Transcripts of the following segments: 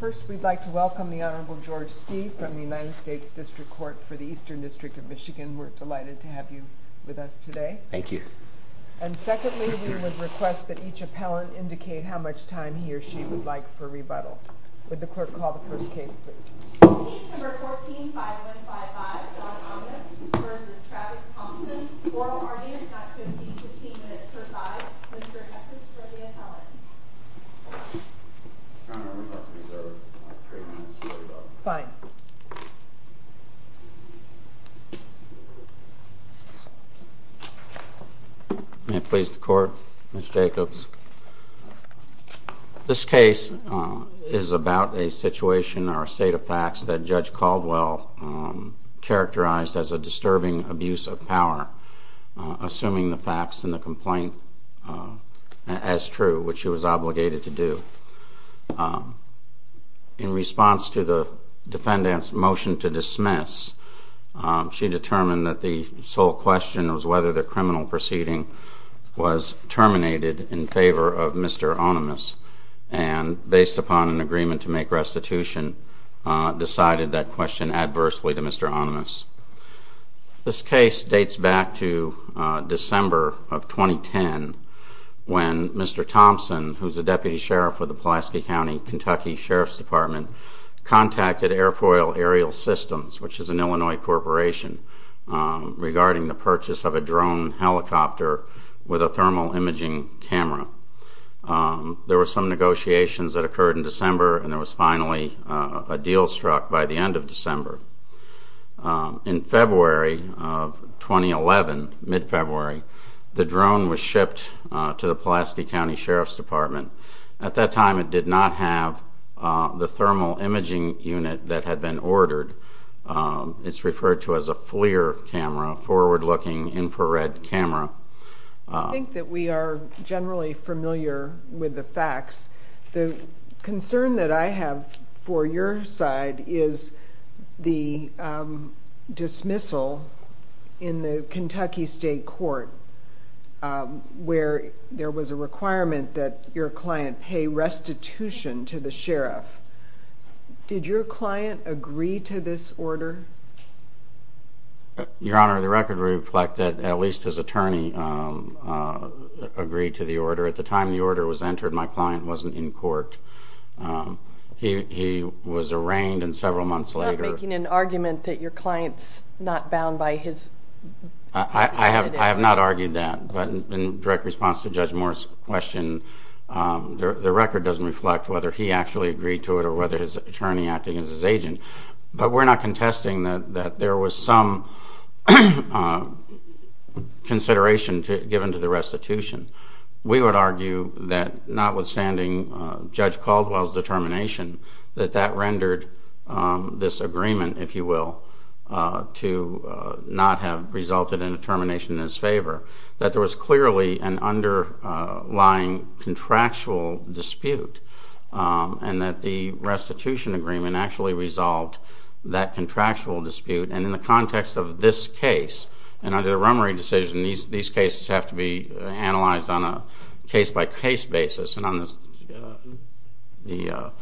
First, we'd like to welcome the Honorable George Stee from the United States District Court for the Eastern District of Michigan. We're delighted to have you with us today. Thank you. And secondly, we would request that each appellant indicate how much time he or she would like for rebuttal. Would the clerk call the first case, please? Case No. 14-5155, John Ohnemus v. Travis Thompson. Oral argument not to exceed 15 minutes per side. Mr. Hectus for the appellant. Your Honor, we'd like to reserve three minutes for rebuttal. Fine. May it please the Court? Mr. Jacobs. This case is about a situation or a state of facts that Judge Caldwell characterized as a disturbing abuse of power, assuming the facts in the complaint as true, which she was obligated to do. In response to the defendant's motion to dismiss, she determined that the sole question was whether the criminal proceeding was terminated in favor of Mr. Ohnemus. And based upon an agreement to make restitution, decided that question adversely to Mr. Ohnemus. This case dates back to December of 2010, when Mr. Thompson, who's a deputy sheriff with the Pulaski County, Kentucky Sheriff's Department, contacted Airfoil Aerial Systems, which is an Illinois corporation, regarding the purchase of a drone helicopter with a thermal imaging camera. There were some negotiations that occurred in December, and there was finally a deal struck by the end of December. In February of 2011, mid-February, the drone was shipped to the Pulaski County Sheriff's Department. At that time, it did not have the thermal imaging unit that had been ordered. It's referred to as a FLIR camera, forward-looking infrared camera. I think that we are generally familiar with the facts. The concern that I have for your side is the dismissal in the Kentucky State Court, where there was a requirement that your client pay restitution to the sheriff. Did your client agree to this order? Your Honor, the record reflects that at least his attorney agreed to the order. At the time the order was entered, my client wasn't in court. He was arraigned, and several months later— You're not making an argument that your client's not bound by his— I have not argued that. But in direct response to Judge Moore's question, the record doesn't reflect whether he actually agreed to it or whether his attorney acted as his agent. But we're not contesting that there was some consideration given to the restitution. We would argue that notwithstanding Judge Caldwell's determination that that rendered this agreement, if you will, to not have resulted in a termination in his favor, that there was clearly an underlying contractual dispute, and that the restitution agreement actually resolved that contractual dispute. And in the context of this case, and under the Rummery decision, these cases have to be analyzed on a case-by-case basis. And on the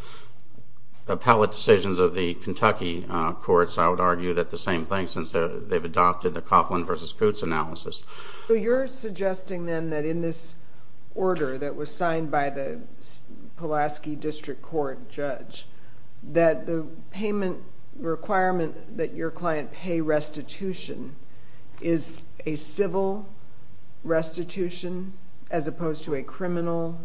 appellate decisions of the Kentucky courts, I would argue that the same thing, since they've adopted the Coughlin v. Coots analysis. So you're suggesting then that in this order that was signed by the Pulaski District Court judge, that the payment requirement that your client pay restitution is a civil restitution as opposed to a criminal penalty?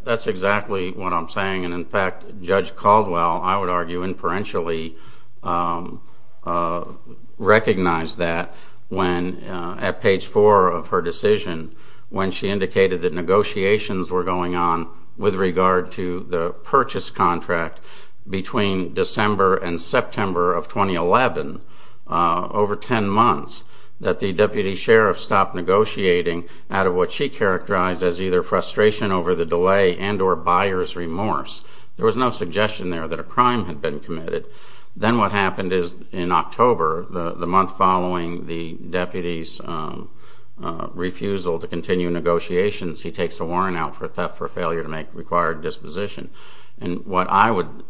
That's exactly what I'm saying. And in fact, Judge Caldwell, I would argue, inferentially recognized that at page four of her decision, when she indicated that negotiations were going on with regard to the purchase contract between December and September of 2011, over 10 months, that the deputy sheriff stopped negotiating out of what she characterized as either frustration over the delay and or buyer's remorse. There was no suggestion there that a crime had been committed. Then what happened is in October, the month following the deputy's refusal to continue negotiations, he takes a warrant out for theft for failure to make required disposition. And what I would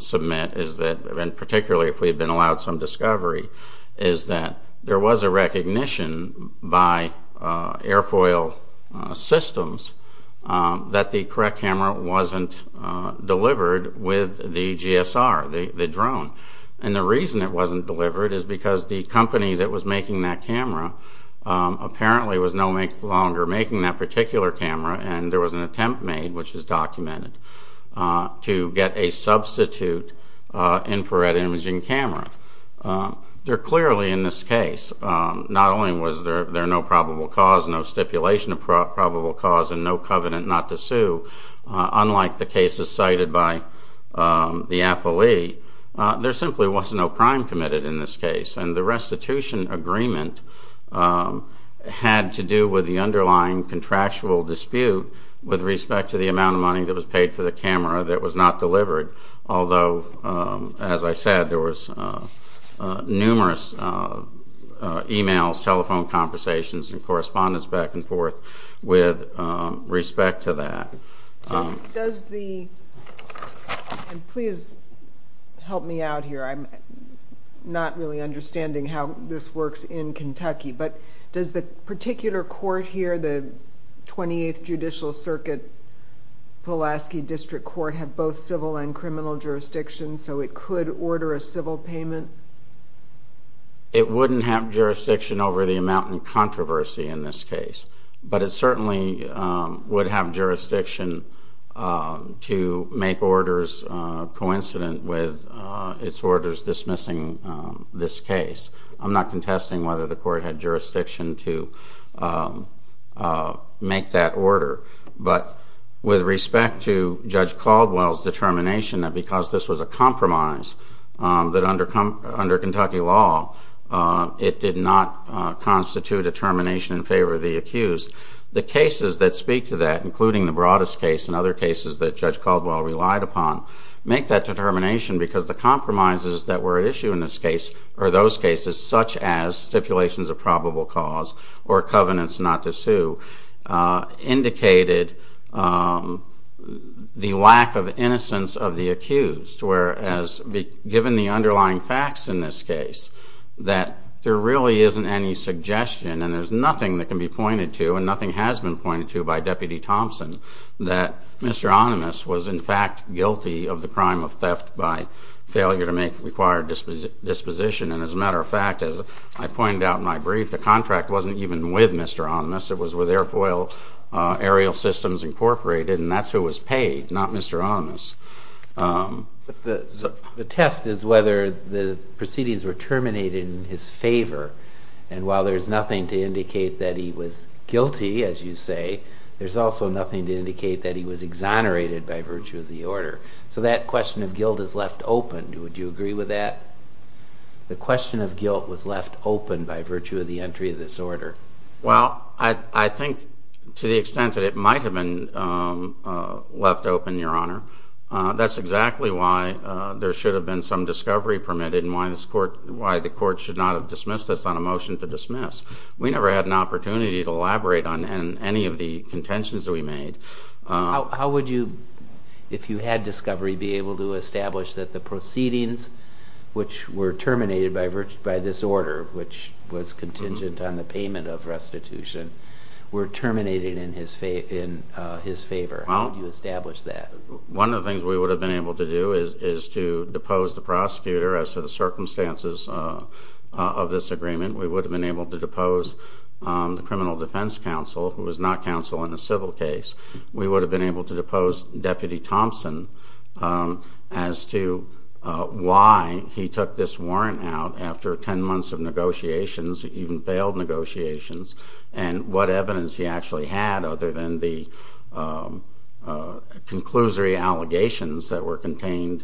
submit is that, and particularly if we've been allowed some discovery, is that there was a recognition by airfoil systems that the correct camera wasn't delivered with the GSR, the drone. And the reason it wasn't delivered is because the company that was making that camera apparently was no longer making that particular camera and there was an attempt made, which is documented, to get a substitute infrared imaging camera. There clearly in this case, not only was there no probable cause, no stipulation of probable cause and no covenant not to sue, unlike the cases cited by the appellee, there simply was no crime committed in this case. And the restitution agreement had to do with the underlying contractual dispute with respect to the amount of money that was paid for the camera that was not delivered. Although, as I said, there was numerous emails, telephone conversations, and correspondence back and forth with respect to that. Does the, and please help me out here, I'm not really understanding how this works in Kentucky, but does the particular court here, the 28th Judicial Circuit, Pulaski District Court, have both civil and criminal jurisdiction so it could order a civil payment? It wouldn't have jurisdiction over the amount in controversy in this case. But it certainly would have jurisdiction to make orders coincident with its orders dismissing this case. I'm not contesting whether the court had jurisdiction to make that order. But with respect to Judge Caldwell's determination that because this was a compromise, that under Kentucky law, it did not constitute a termination in favor of the accused. The cases that speak to that, including the Broadus case and other cases that Judge Caldwell relied upon, make that determination because the compromises that were at issue in this case, or those cases, such as stipulations of probable cause or covenants not to sue, indicated the lack of innocence of the accused. Whereas, given the underlying facts in this case, that there really isn't any suggestion, and there's nothing that can be pointed to and nothing has been pointed to by Deputy Thompson, that Mr. Animas was in fact guilty of the crime of theft by failure to make required disposition. And as a matter of fact, as I pointed out in my brief, the contract wasn't even with Mr. Animas. It was with Airfoil Aerial Systems Incorporated, and that's who was paid, not Mr. Animas. The test is whether the proceedings were terminated in his favor. And while there's nothing to indicate that he was guilty, as you say, there's also nothing to indicate that he was exonerated by virtue of the order. So that question of guilt is left open. Would you agree with that? The question of guilt was left open by virtue of the entry of this order. Well, I think to the extent that it might have been left open, Your Honor, that's exactly why there should have been some discovery permitted and why the court should not have dismissed this on a motion to dismiss. We never had an opportunity to elaborate on any of the contentions that we made. How would you, if you had discovery, be able to establish that the proceedings, which were terminated by this order, which was contingent on the payment of restitution, were terminated in his favor? How would you establish that? One of the things we would have been able to do is to depose the prosecutor as to the circumstances of this agreement. We would have been able to depose the criminal defense counsel, who is not counsel in a civil case. We would have been able to depose Deputy Thompson as to why he took this warrant out after 10 months of negotiations, even failed negotiations, and what evidence he actually had other than the conclusory allegations that were contained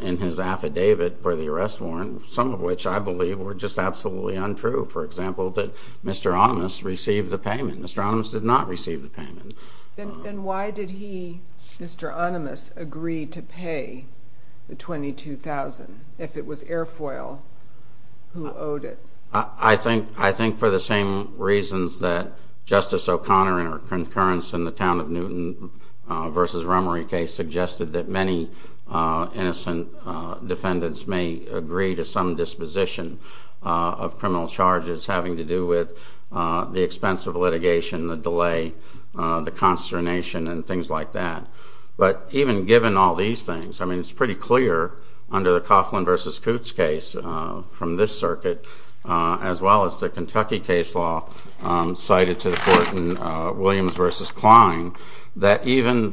in his affidavit for the arrest warrant, some of which I believe were just absolutely untrue. For example, that Mr. Onimus received the payment. Mr. Onimus did not receive the payment. Then why did he, Mr. Onimus, agree to pay the $22,000 if it was Airfoil who owed it? I think for the same reasons that Justice O'Connor in her concurrence in the Town of Newton v. Rummery case suggested that many innocent defendants may agree to some disposition of criminal charges having to do with the expense of litigation, the delay, the consternation, and things like that. But even given all these things, I mean, it's pretty clear under the Coughlin v. Coots case from this circuit, as well as the Kentucky case law cited to the court in Williams v. Klein, that even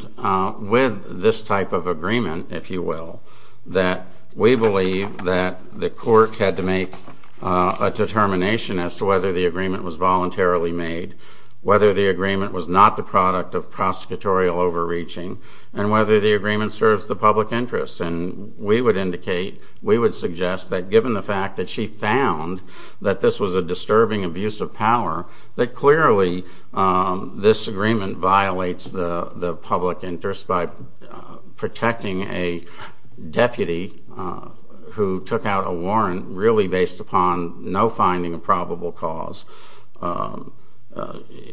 with this type of agreement, if you will, that we believe that the court had to make a determination as to whether the agreement was voluntarily made, whether the agreement was not the product of prosecutorial overreaching, and whether the agreement serves the public interest. And we would indicate, we would suggest that given the fact that she found that this was a disturbing abuse of power, that clearly this agreement violates the public interest by protecting a deputy who took out a warrant really based upon no finding of probable cause,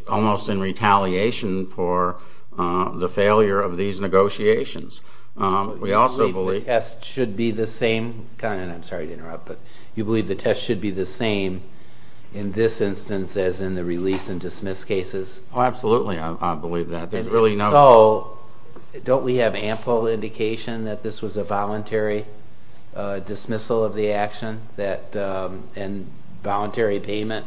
almost in retaliation for the failure of these negotiations. We also believe... You believe the test should be the same, and I'm sorry to interrupt, but you believe the test should be the same in this instance as in the release and dismiss cases? Oh, absolutely, I believe that. Don't we have ample indication that this was a voluntary dismissal of the action and voluntary payment?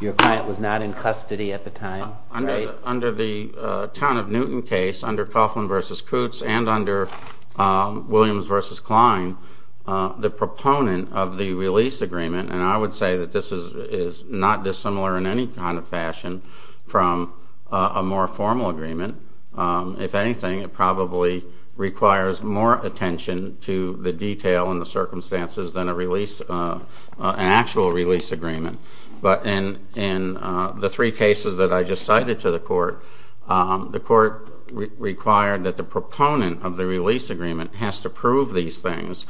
Your client was not in custody at the time. Under the Town of Newton case, under Coughlin v. Coots and under Williams v. Klein, the proponent of the release agreement, and I would say that this is not dissimilar in any kind of fashion from a more formal agreement. If anything, it probably requires more attention to the detail and the circumstances than an actual release agreement. But in the three cases that I just cited to the court, the court required that the proponent of the release agreement has to prove these things,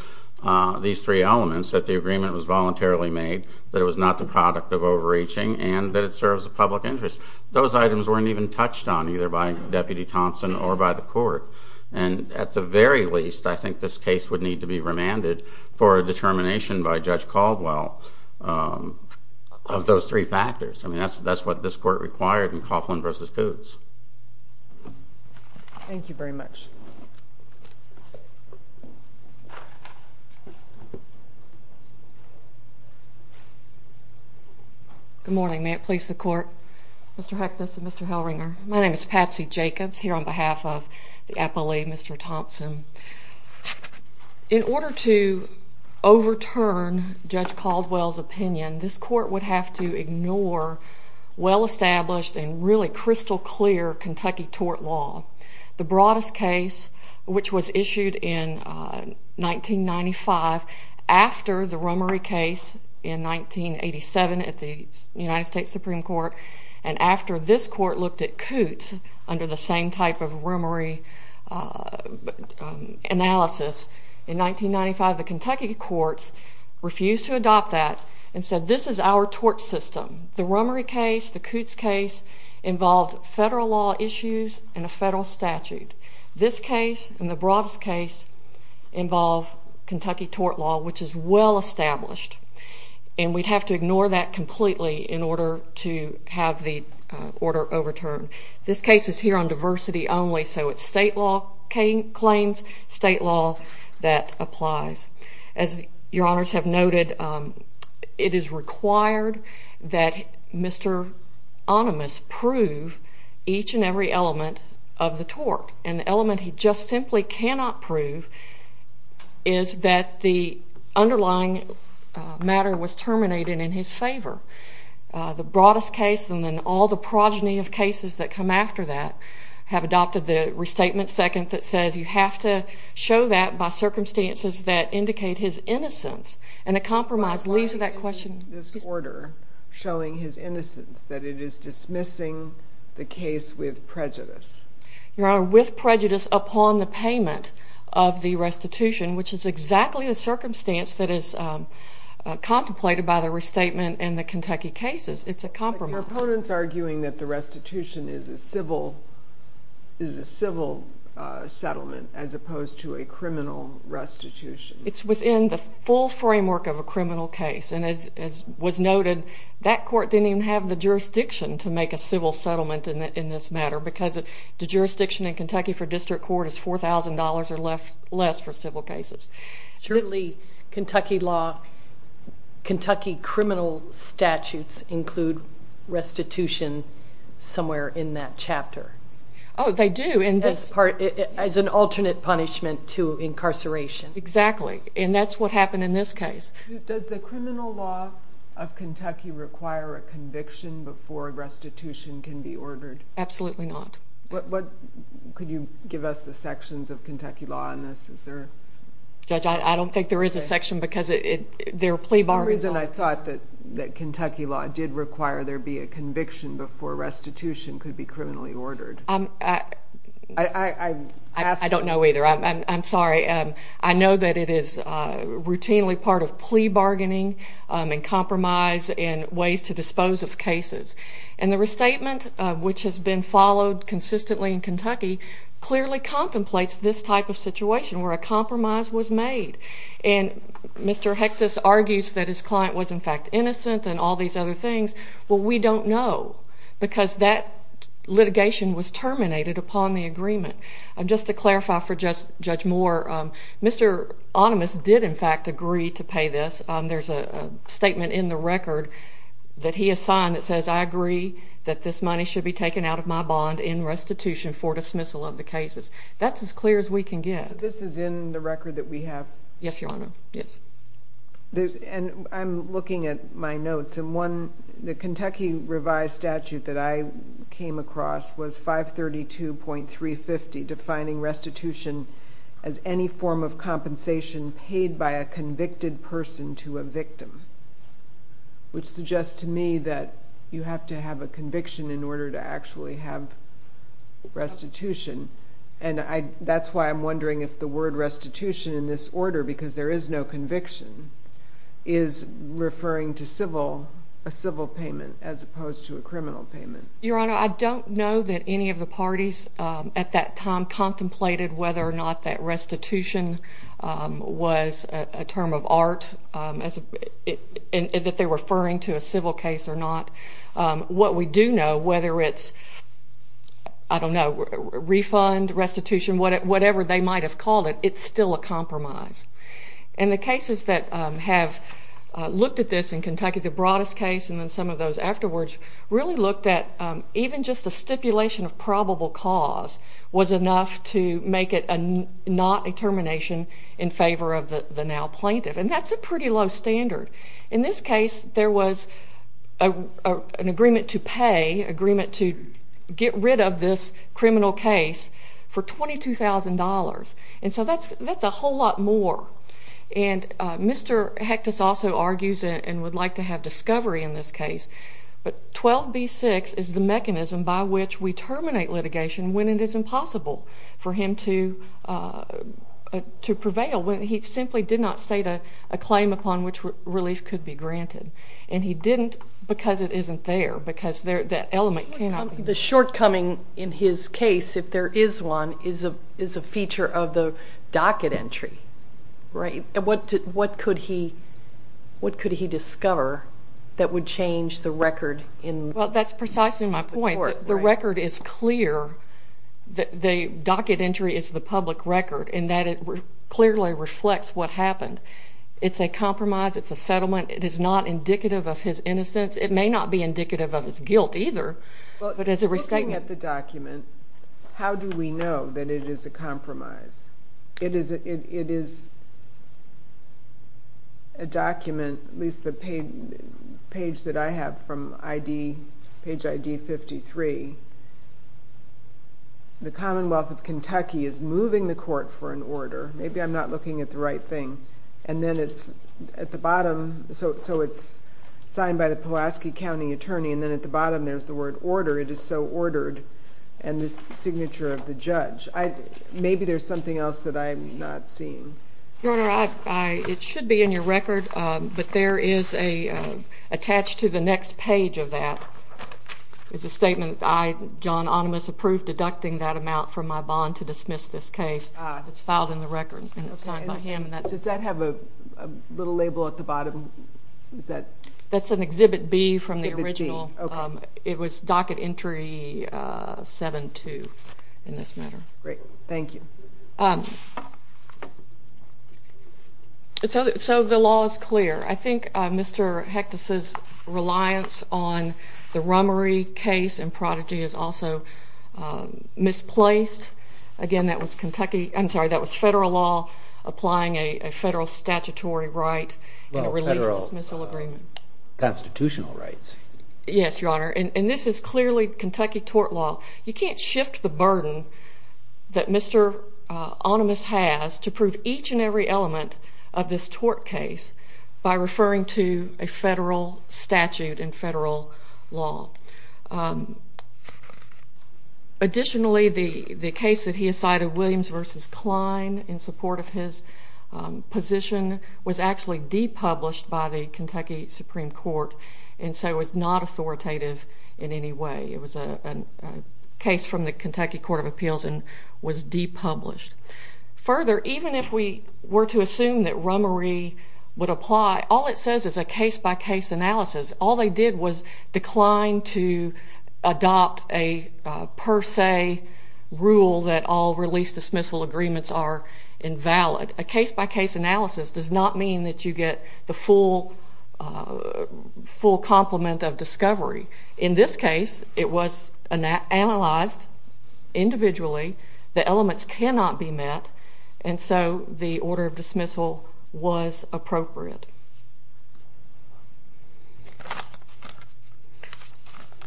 these three elements, that the agreement was voluntarily made, that it was not the product of overreaching, and that it serves the public interest. Those items weren't even touched on, either by Deputy Thompson or by the court. And at the very least, I think this case would need to be remanded for a determination by Judge Caldwell of those three factors. I mean, that's what this court required in Coughlin v. Coots. Thank you very much. Good morning. May it please the court? Mr. Hectus and Mr. Hellringer, my name is Patsy Jacobs, here on behalf of the appellee, Mr. Thompson. In order to overturn Judge Caldwell's opinion, this court would have to ignore well-established and really crystal-clear Kentucky tort law. The broadest case in this case, which was issued in 1995, after the Romary case in 1987 at the United States Supreme Court, and after this court looked at Coots under the same type of Romary analysis in 1995, the Kentucky courts refused to adopt that and said, this is our tort system. The Romary case, the Coots case, involved federal law issues and a federal statute. This case and the broadest case involve Kentucky tort law, which is well-established, and we'd have to ignore that completely in order to have the order overturned. This case is here on diversity only, so it's state law claims, state law that applies. As your honors have noted, it is required that Mr. Animas prove each and every element of the tort, and the element he just simply cannot prove is that the underlying matter was terminated in his favor. The broadest case and then all the progeny of cases that come after that have adopted the restatement second that says you have to show that by circumstances that indicate his innocence, and a compromise leads to that question. showing his innocence, that it is dismissing the case with prejudice. Your honor, with prejudice upon the payment of the restitution, which is exactly the circumstance that is contemplated by the restatement in the Kentucky cases. It's a compromise. But the proponents are arguing that the restitution is a civil settlement as opposed to a criminal restitution. It's within the full framework of a criminal case, and as was noted, that court didn't even have the jurisdiction to make a civil settlement in this matter because the jurisdiction in Kentucky for district court is $4,000 or less for civil cases. Surely, Kentucky criminal statutes include restitution somewhere in that chapter. Oh, they do, as an alternate punishment to incarceration. Exactly, and that's what happened in this case. Does the criminal law of Kentucky require a conviction before a restitution can be ordered? Absolutely not. Could you give us the sections of Kentucky law on this? Judge, I don't think there is a section because their plea bar is up. For some reason, I thought that Kentucky law did require there be a conviction before restitution could be criminally ordered. I don't know either. I'm sorry. I know that it is routinely part of plea bargaining and compromise and ways to dispose of cases. And the restatement, which has been followed consistently in Kentucky, clearly contemplates this type of situation where a compromise was made. And Mr. Hectus argues that his client was, in fact, innocent and all these other things. Well, we don't know because that litigation was terminated upon the agreement. Just to clarify for Judge Moore, Mr. Animas did, in fact, agree to pay this. There's a statement in the record that he has signed that says, I agree that this money should be taken out of my bond in restitution for dismissal of the cases. That's as clear as we can get. So this is in the record that we have? Yes, Your Honor. Yes. And I'm looking at my notes, and the Kentucky revised statute that I came across was 532.350 defining restitution as any form of compensation paid by a convicted person to a victim, which suggests to me that you have to have a conviction in order to actually have restitution. And that's why I'm wondering if the word restitution in this order, because there is no conviction, is referring to a civil payment as opposed to a criminal payment. Your Honor, I don't know that any of the parties at that time contemplated whether or not that restitution was a term of art and that they're referring to a civil case or not. What we do know, whether it's, I don't know, refund, restitution, whatever they might have called it, it's still a compromise. And the cases that have looked at this, in Kentucky the broadest case and then some of those afterwards, really looked at even just a stipulation of probable cause was enough to make it not a termination in favor of the now plaintiff. And that's a pretty low standard. In this case, there was an agreement to pay, agreement to get rid of this criminal case for $22,000. And so that's a whole lot more. And Mr. Hectus also argues and would like to have discovery in this case, but 12b-6 is the mechanism by which we terminate litigation when it is impossible for him to prevail, when he simply did not state a claim upon which relief could be granted. And he didn't because it isn't there, because that element cannot be. The shortcoming in his case, if there is one, is a feature of the docket entry, right? And what could he discover that would change the record? Well, that's precisely my point. The record is clear. The docket entry is the public record in that it clearly reflects what happened. It's a compromise. It's a settlement. It is not indicative of his innocence. It may not be indicative of his guilt either. Well, looking at the document, how do we know that it is a compromise? It is a document, at least the page that I have from page ID 53. The Commonwealth of Kentucky is moving the court for an order. Maybe I'm not looking at the right thing. And then it's at the bottom, so it's signed by the Pulaski County attorney, and then at the bottom there's the word order. It is so ordered, and the signature of the judge. Maybe there's something else that I'm not seeing. Your Honor, it should be in your record, but there is attached to the next page of that is a statement, I, John Animas, approve deducting that amount from my bond to dismiss this case. It's filed in the record and it's signed by him. Does that have a little label at the bottom? That's an Exhibit B from the original. It was Docket Entry 7-2 in this matter. Great. Thank you. So the law is clear. I think Mr. Hectus's reliance on the Rummery case in Prodigy is also misplaced. Again, that was federal law applying a federal statutory right and a release-dismissal agreement. Well, federal constitutional rights. Yes, Your Honor, and this is clearly Kentucky tort law. You can't shift the burden that Mr. Animas has to prove each and every element of this tort case by referring to a federal statute and federal law. Additionally, the case that he decided, Williams v. Kline, in support of his position was actually depublished by the Kentucky Supreme Court, and so it's not authoritative in any way. It was a case from the Kentucky Court of Appeals and was depublished. Further, even if we were to assume that Rummery would apply, all it says is a case-by-case analysis. All they did was decline to adopt a per se rule that all release-dismissal agreements are invalid. A case-by-case analysis does not mean that you get the full complement of discovery. In this case, it was analyzed individually. The elements cannot be met, and so the order of dismissal was appropriate.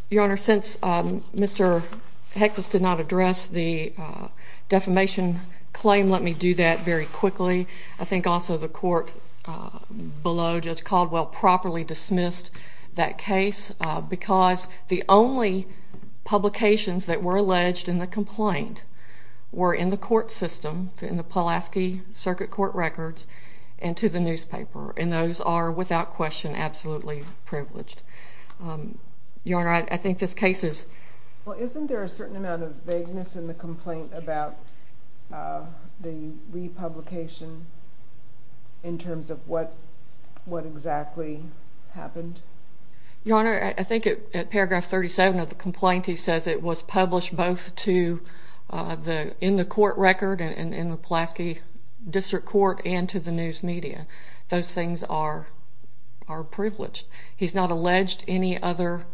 Your Honor, since Mr. Hectus did not address the defamation claim, let me do that very quickly. I think also the court below Judge Caldwell properly dismissed that case because the only publications that were alleged in the complaint were in the court system, in the Pulaski Circuit Court records and to the newspaper, and those are without question absolutely privileged. Your Honor, I think this case is— Well, isn't there a certain amount of vagueness in the complaint about the republication in terms of what exactly happened? Your Honor, I think at paragraph 37 of the complaint, he says it was published both in the court record, in the Pulaski District Court, and to the news media. Those things are privileged. He's not alleged any other—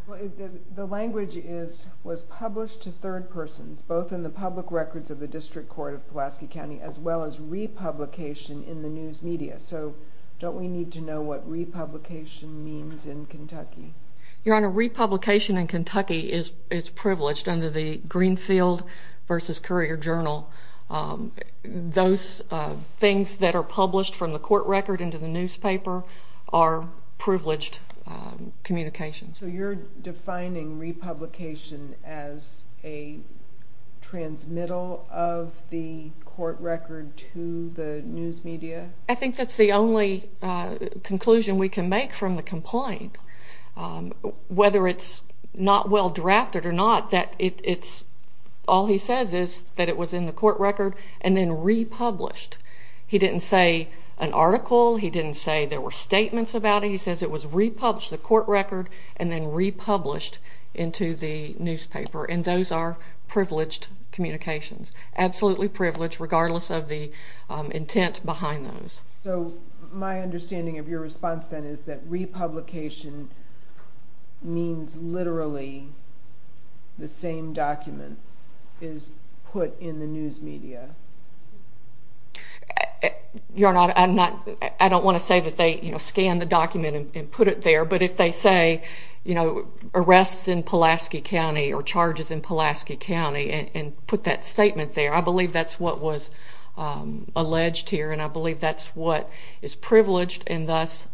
The language is, was published to third persons, both in the public records of the District Court of Pulaski County as well as republication in the news media. So don't we need to know what republication means in Kentucky? Your Honor, republication in Kentucky is privileged under the Greenfield v. Courier Journal. Those things that are published from the court record into the newspaper are privileged communications. So you're defining republication as a transmittal of the court record to the news media? I think that's the only conclusion we can make from the complaint. Whether it's not well drafted or not, that it's—all he says is that it was in the court record and then republished. He didn't say an article. He didn't say there were statements about it. He says it was republished, the court record, and then republished into the newspaper. And those are privileged communications, absolutely privileged, regardless of the intent behind those. So my understanding of your response then is that republication means literally the same document is put in the news media. Your Honor, I don't want to say that they scan the document and put it there, but if they say, you know, arrests in Pulaski County or charges in Pulaski County and put that statement there, I believe that's what was alleged here, and I believe that's what is privileged and thus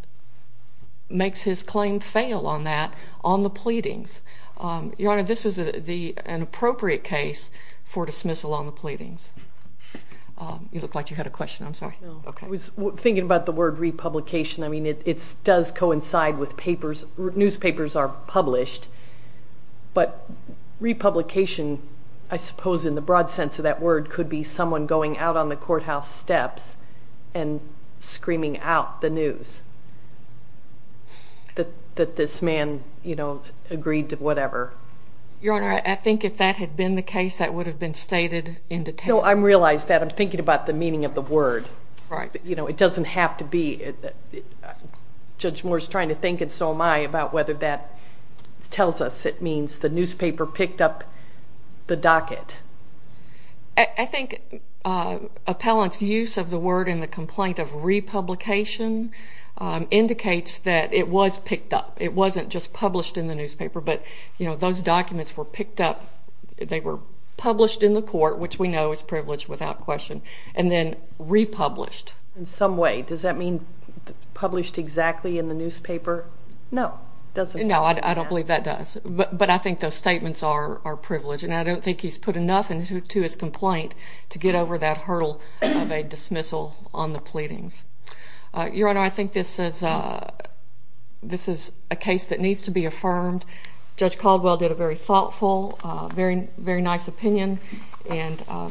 makes his claim fail on that on the pleadings. Your Honor, this is an appropriate case for dismissal on the pleadings. You look like you had a question. I'm sorry. I was thinking about the word republication. I mean, it does coincide with papers. Newspapers are published, but republication, I suppose in the broad sense of that word, could be someone going out on the courthouse steps and screaming out the news that this man, you know, agreed to whatever. Your Honor, I think if that had been the case, that would have been stated in detail. No, I realize that. I'm thinking about the meaning of the word. You know, it doesn't have to be. Judge Moore is trying to think, and so am I, about whether that tells us it means the newspaper picked up the docket. I think appellant's use of the word in the complaint of republication indicates that it was picked up. It wasn't just published in the newspaper, but, you know, those documents were picked up. They were published in the court, which we know is privileged without question, and then republished. In some way, does that mean published exactly in the newspaper? No. No, I don't believe that does. But I think those statements are privileged, and I don't think he's put enough into his complaint to get over that hurdle of a dismissal on the pleadings. Your Honor, I think this is a case that needs to be affirmed. Judge Caldwell did a very thoughtful, very nice opinion, and I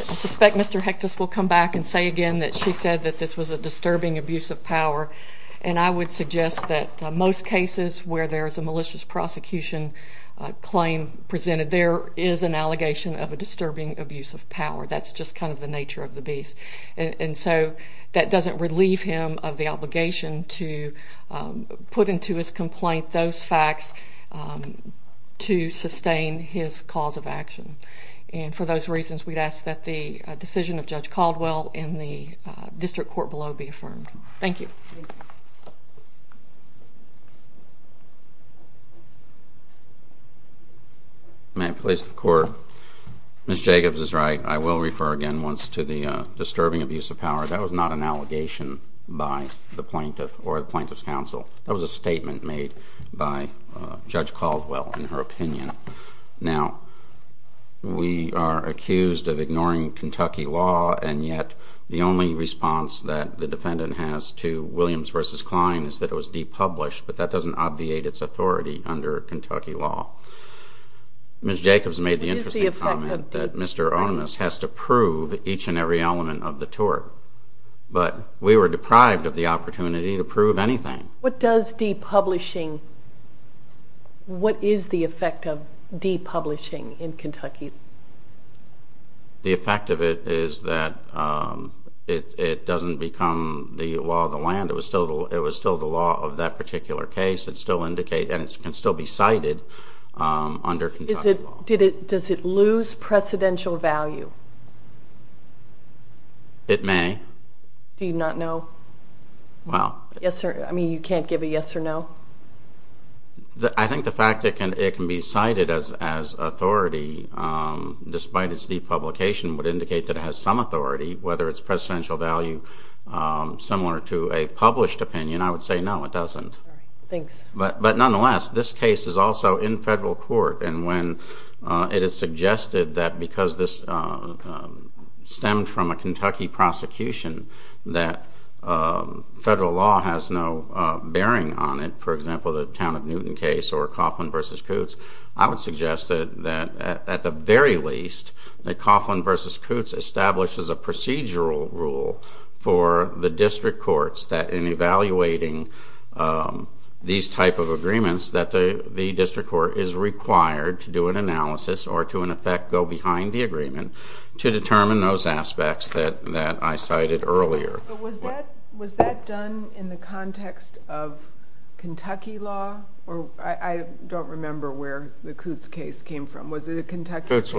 suspect Mr. Hectus will come back and say again that she said that this was a disturbing abuse of power, and I would suggest that most cases where there is a malicious prosecution claim presented, there is an allegation of a disturbing abuse of power. That's just kind of the nature of the beast. And so that doesn't relieve him of the obligation to put into his complaint those facts to sustain his cause of action. And for those reasons, we'd ask that the decision of Judge Caldwell in the district court below be affirmed. Thank you. May I please have the court? Ms. Jacobs is right. I will refer again once to the disturbing abuse of power. That was not an allegation by the plaintiff or the plaintiff's counsel. That was a statement made by Judge Caldwell in her opinion. Now, we are accused of ignoring Kentucky law, and yet the only response that the defendant has to Williams v. Klein is that it was depublished, but that doesn't obviate its authority under Kentucky law. Ms. Jacobs made the interesting comment that Mr. Onus has to prove each and every element of the tort, but we were deprived of the opportunity to prove anything. What is the effect of depublishing in Kentucky? The effect of it is that it doesn't become the law of the land. It was still the law of that particular case, and it can still be cited under Kentucky law. Does it lose precedential value? It may. Do you not know? Well. I mean, you can't give a yes or no? I think the fact that it can be cited as authority despite its depublication would indicate that it has some authority, whether it's precedential value similar to a published opinion. I would say no, it doesn't. All right. Thanks. But nonetheless, this case is also in federal court, and when it is suggested that because this stemmed from a Kentucky prosecution that federal law has no bearing on it, for example, the Town of Newton case or Coughlin v. Coots, I would suggest that at the very least that Coughlin v. Coots establishes a procedural rule for the district courts that in evaluating these type of agreements that the district court is required to do an analysis or to in effect go behind the agreement to determine those aspects that I cited earlier. Was that done in the context of Kentucky law? I don't remember where the Coots case came from. Was it a Kentucky case?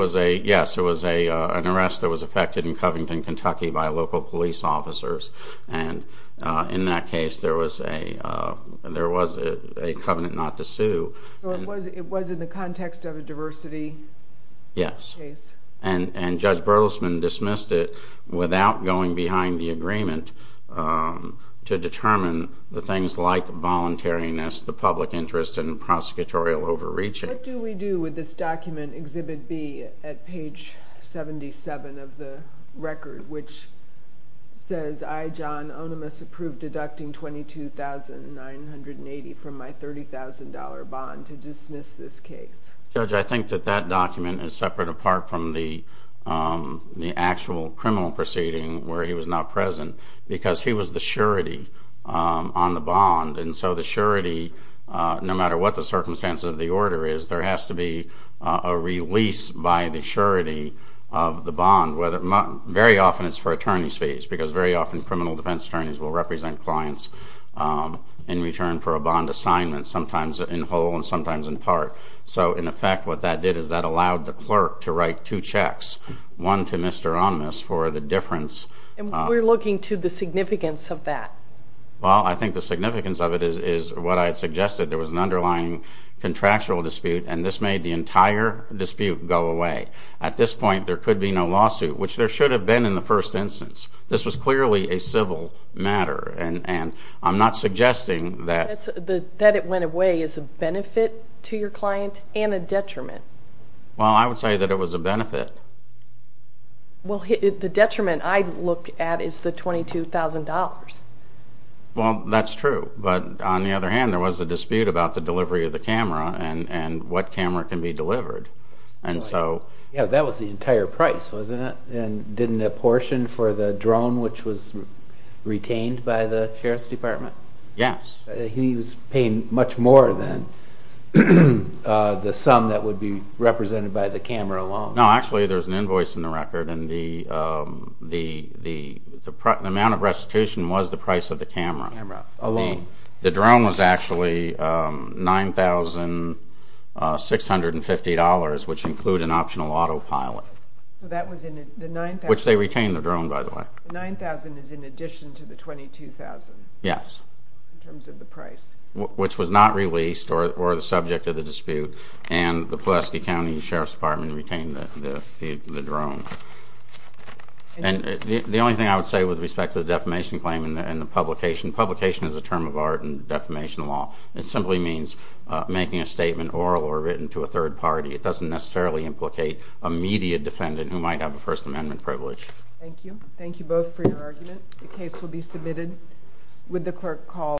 Yes, it was an arrest that was effected in Covington, Kentucky, by local police officers, and in that case there was a covenant not to sue. So it was in the context of a diversity case? Yes, and Judge Bertelsman dismissed it without going behind the agreement to determine the things like voluntariness, the public interest, and prosecutorial overreaching. What do we do with this document, Exhibit B, at page 77 of the record, which says, I, John Onimus, approve deducting $22,980 from my $30,000 bond to dismiss this case? Judge, I think that that document is separate apart from the actual criminal proceeding where he was not present because he was the surety on the bond, and so the surety, no matter what the circumstances of the order is, there has to be a release by the surety of the bond, and very often it's for attorney's fees because very often criminal defense attorneys will represent clients in return for a bond assignment, sometimes in whole and sometimes in part. So, in effect, what that did is that allowed the clerk to write two checks, one to Mr. Onimus for the difference. And we're looking to the significance of that. Well, I think the significance of it is what I had suggested. There was an underlying contractual dispute, and this made the entire dispute go away. At this point, there could be no lawsuit, which there should have been in the first instance. This was clearly a civil matter, and I'm not suggesting that... That it went away is a benefit to your client and a detriment. Well, I would say that it was a benefit. Well, the detriment I look at is the $22,000. Well, that's true, but on the other hand, there was a dispute about the delivery of the camera and what camera can be delivered. Yeah, that was the entire price, wasn't it? And didn't it portion for the drone, which was retained by the Sheriff's Department? Yes. He was paying much more than the sum that would be represented by the camera alone. No, actually, there's an invoice in the record, and the amount of restitution was the price of the camera. The drone was actually $9,650. $9,650, which include an optional autopilot. So that was in the $9,000... Which they retained the drone, by the way. The $9,000 is in addition to the $22,000... Yes.... in terms of the price. Which was not released or the subject of the dispute, and the Pulaski County Sheriff's Department retained the drone. And the only thing I would say with respect to the defamation claim and the publication, publication is a term of art in defamation law. It simply means making a statement oral or written to a third party. It doesn't necessarily implicate a media defendant who might have a First Amendment privilege. Thank you. Thank you both for your argument. The case will be submitted with the clerk called.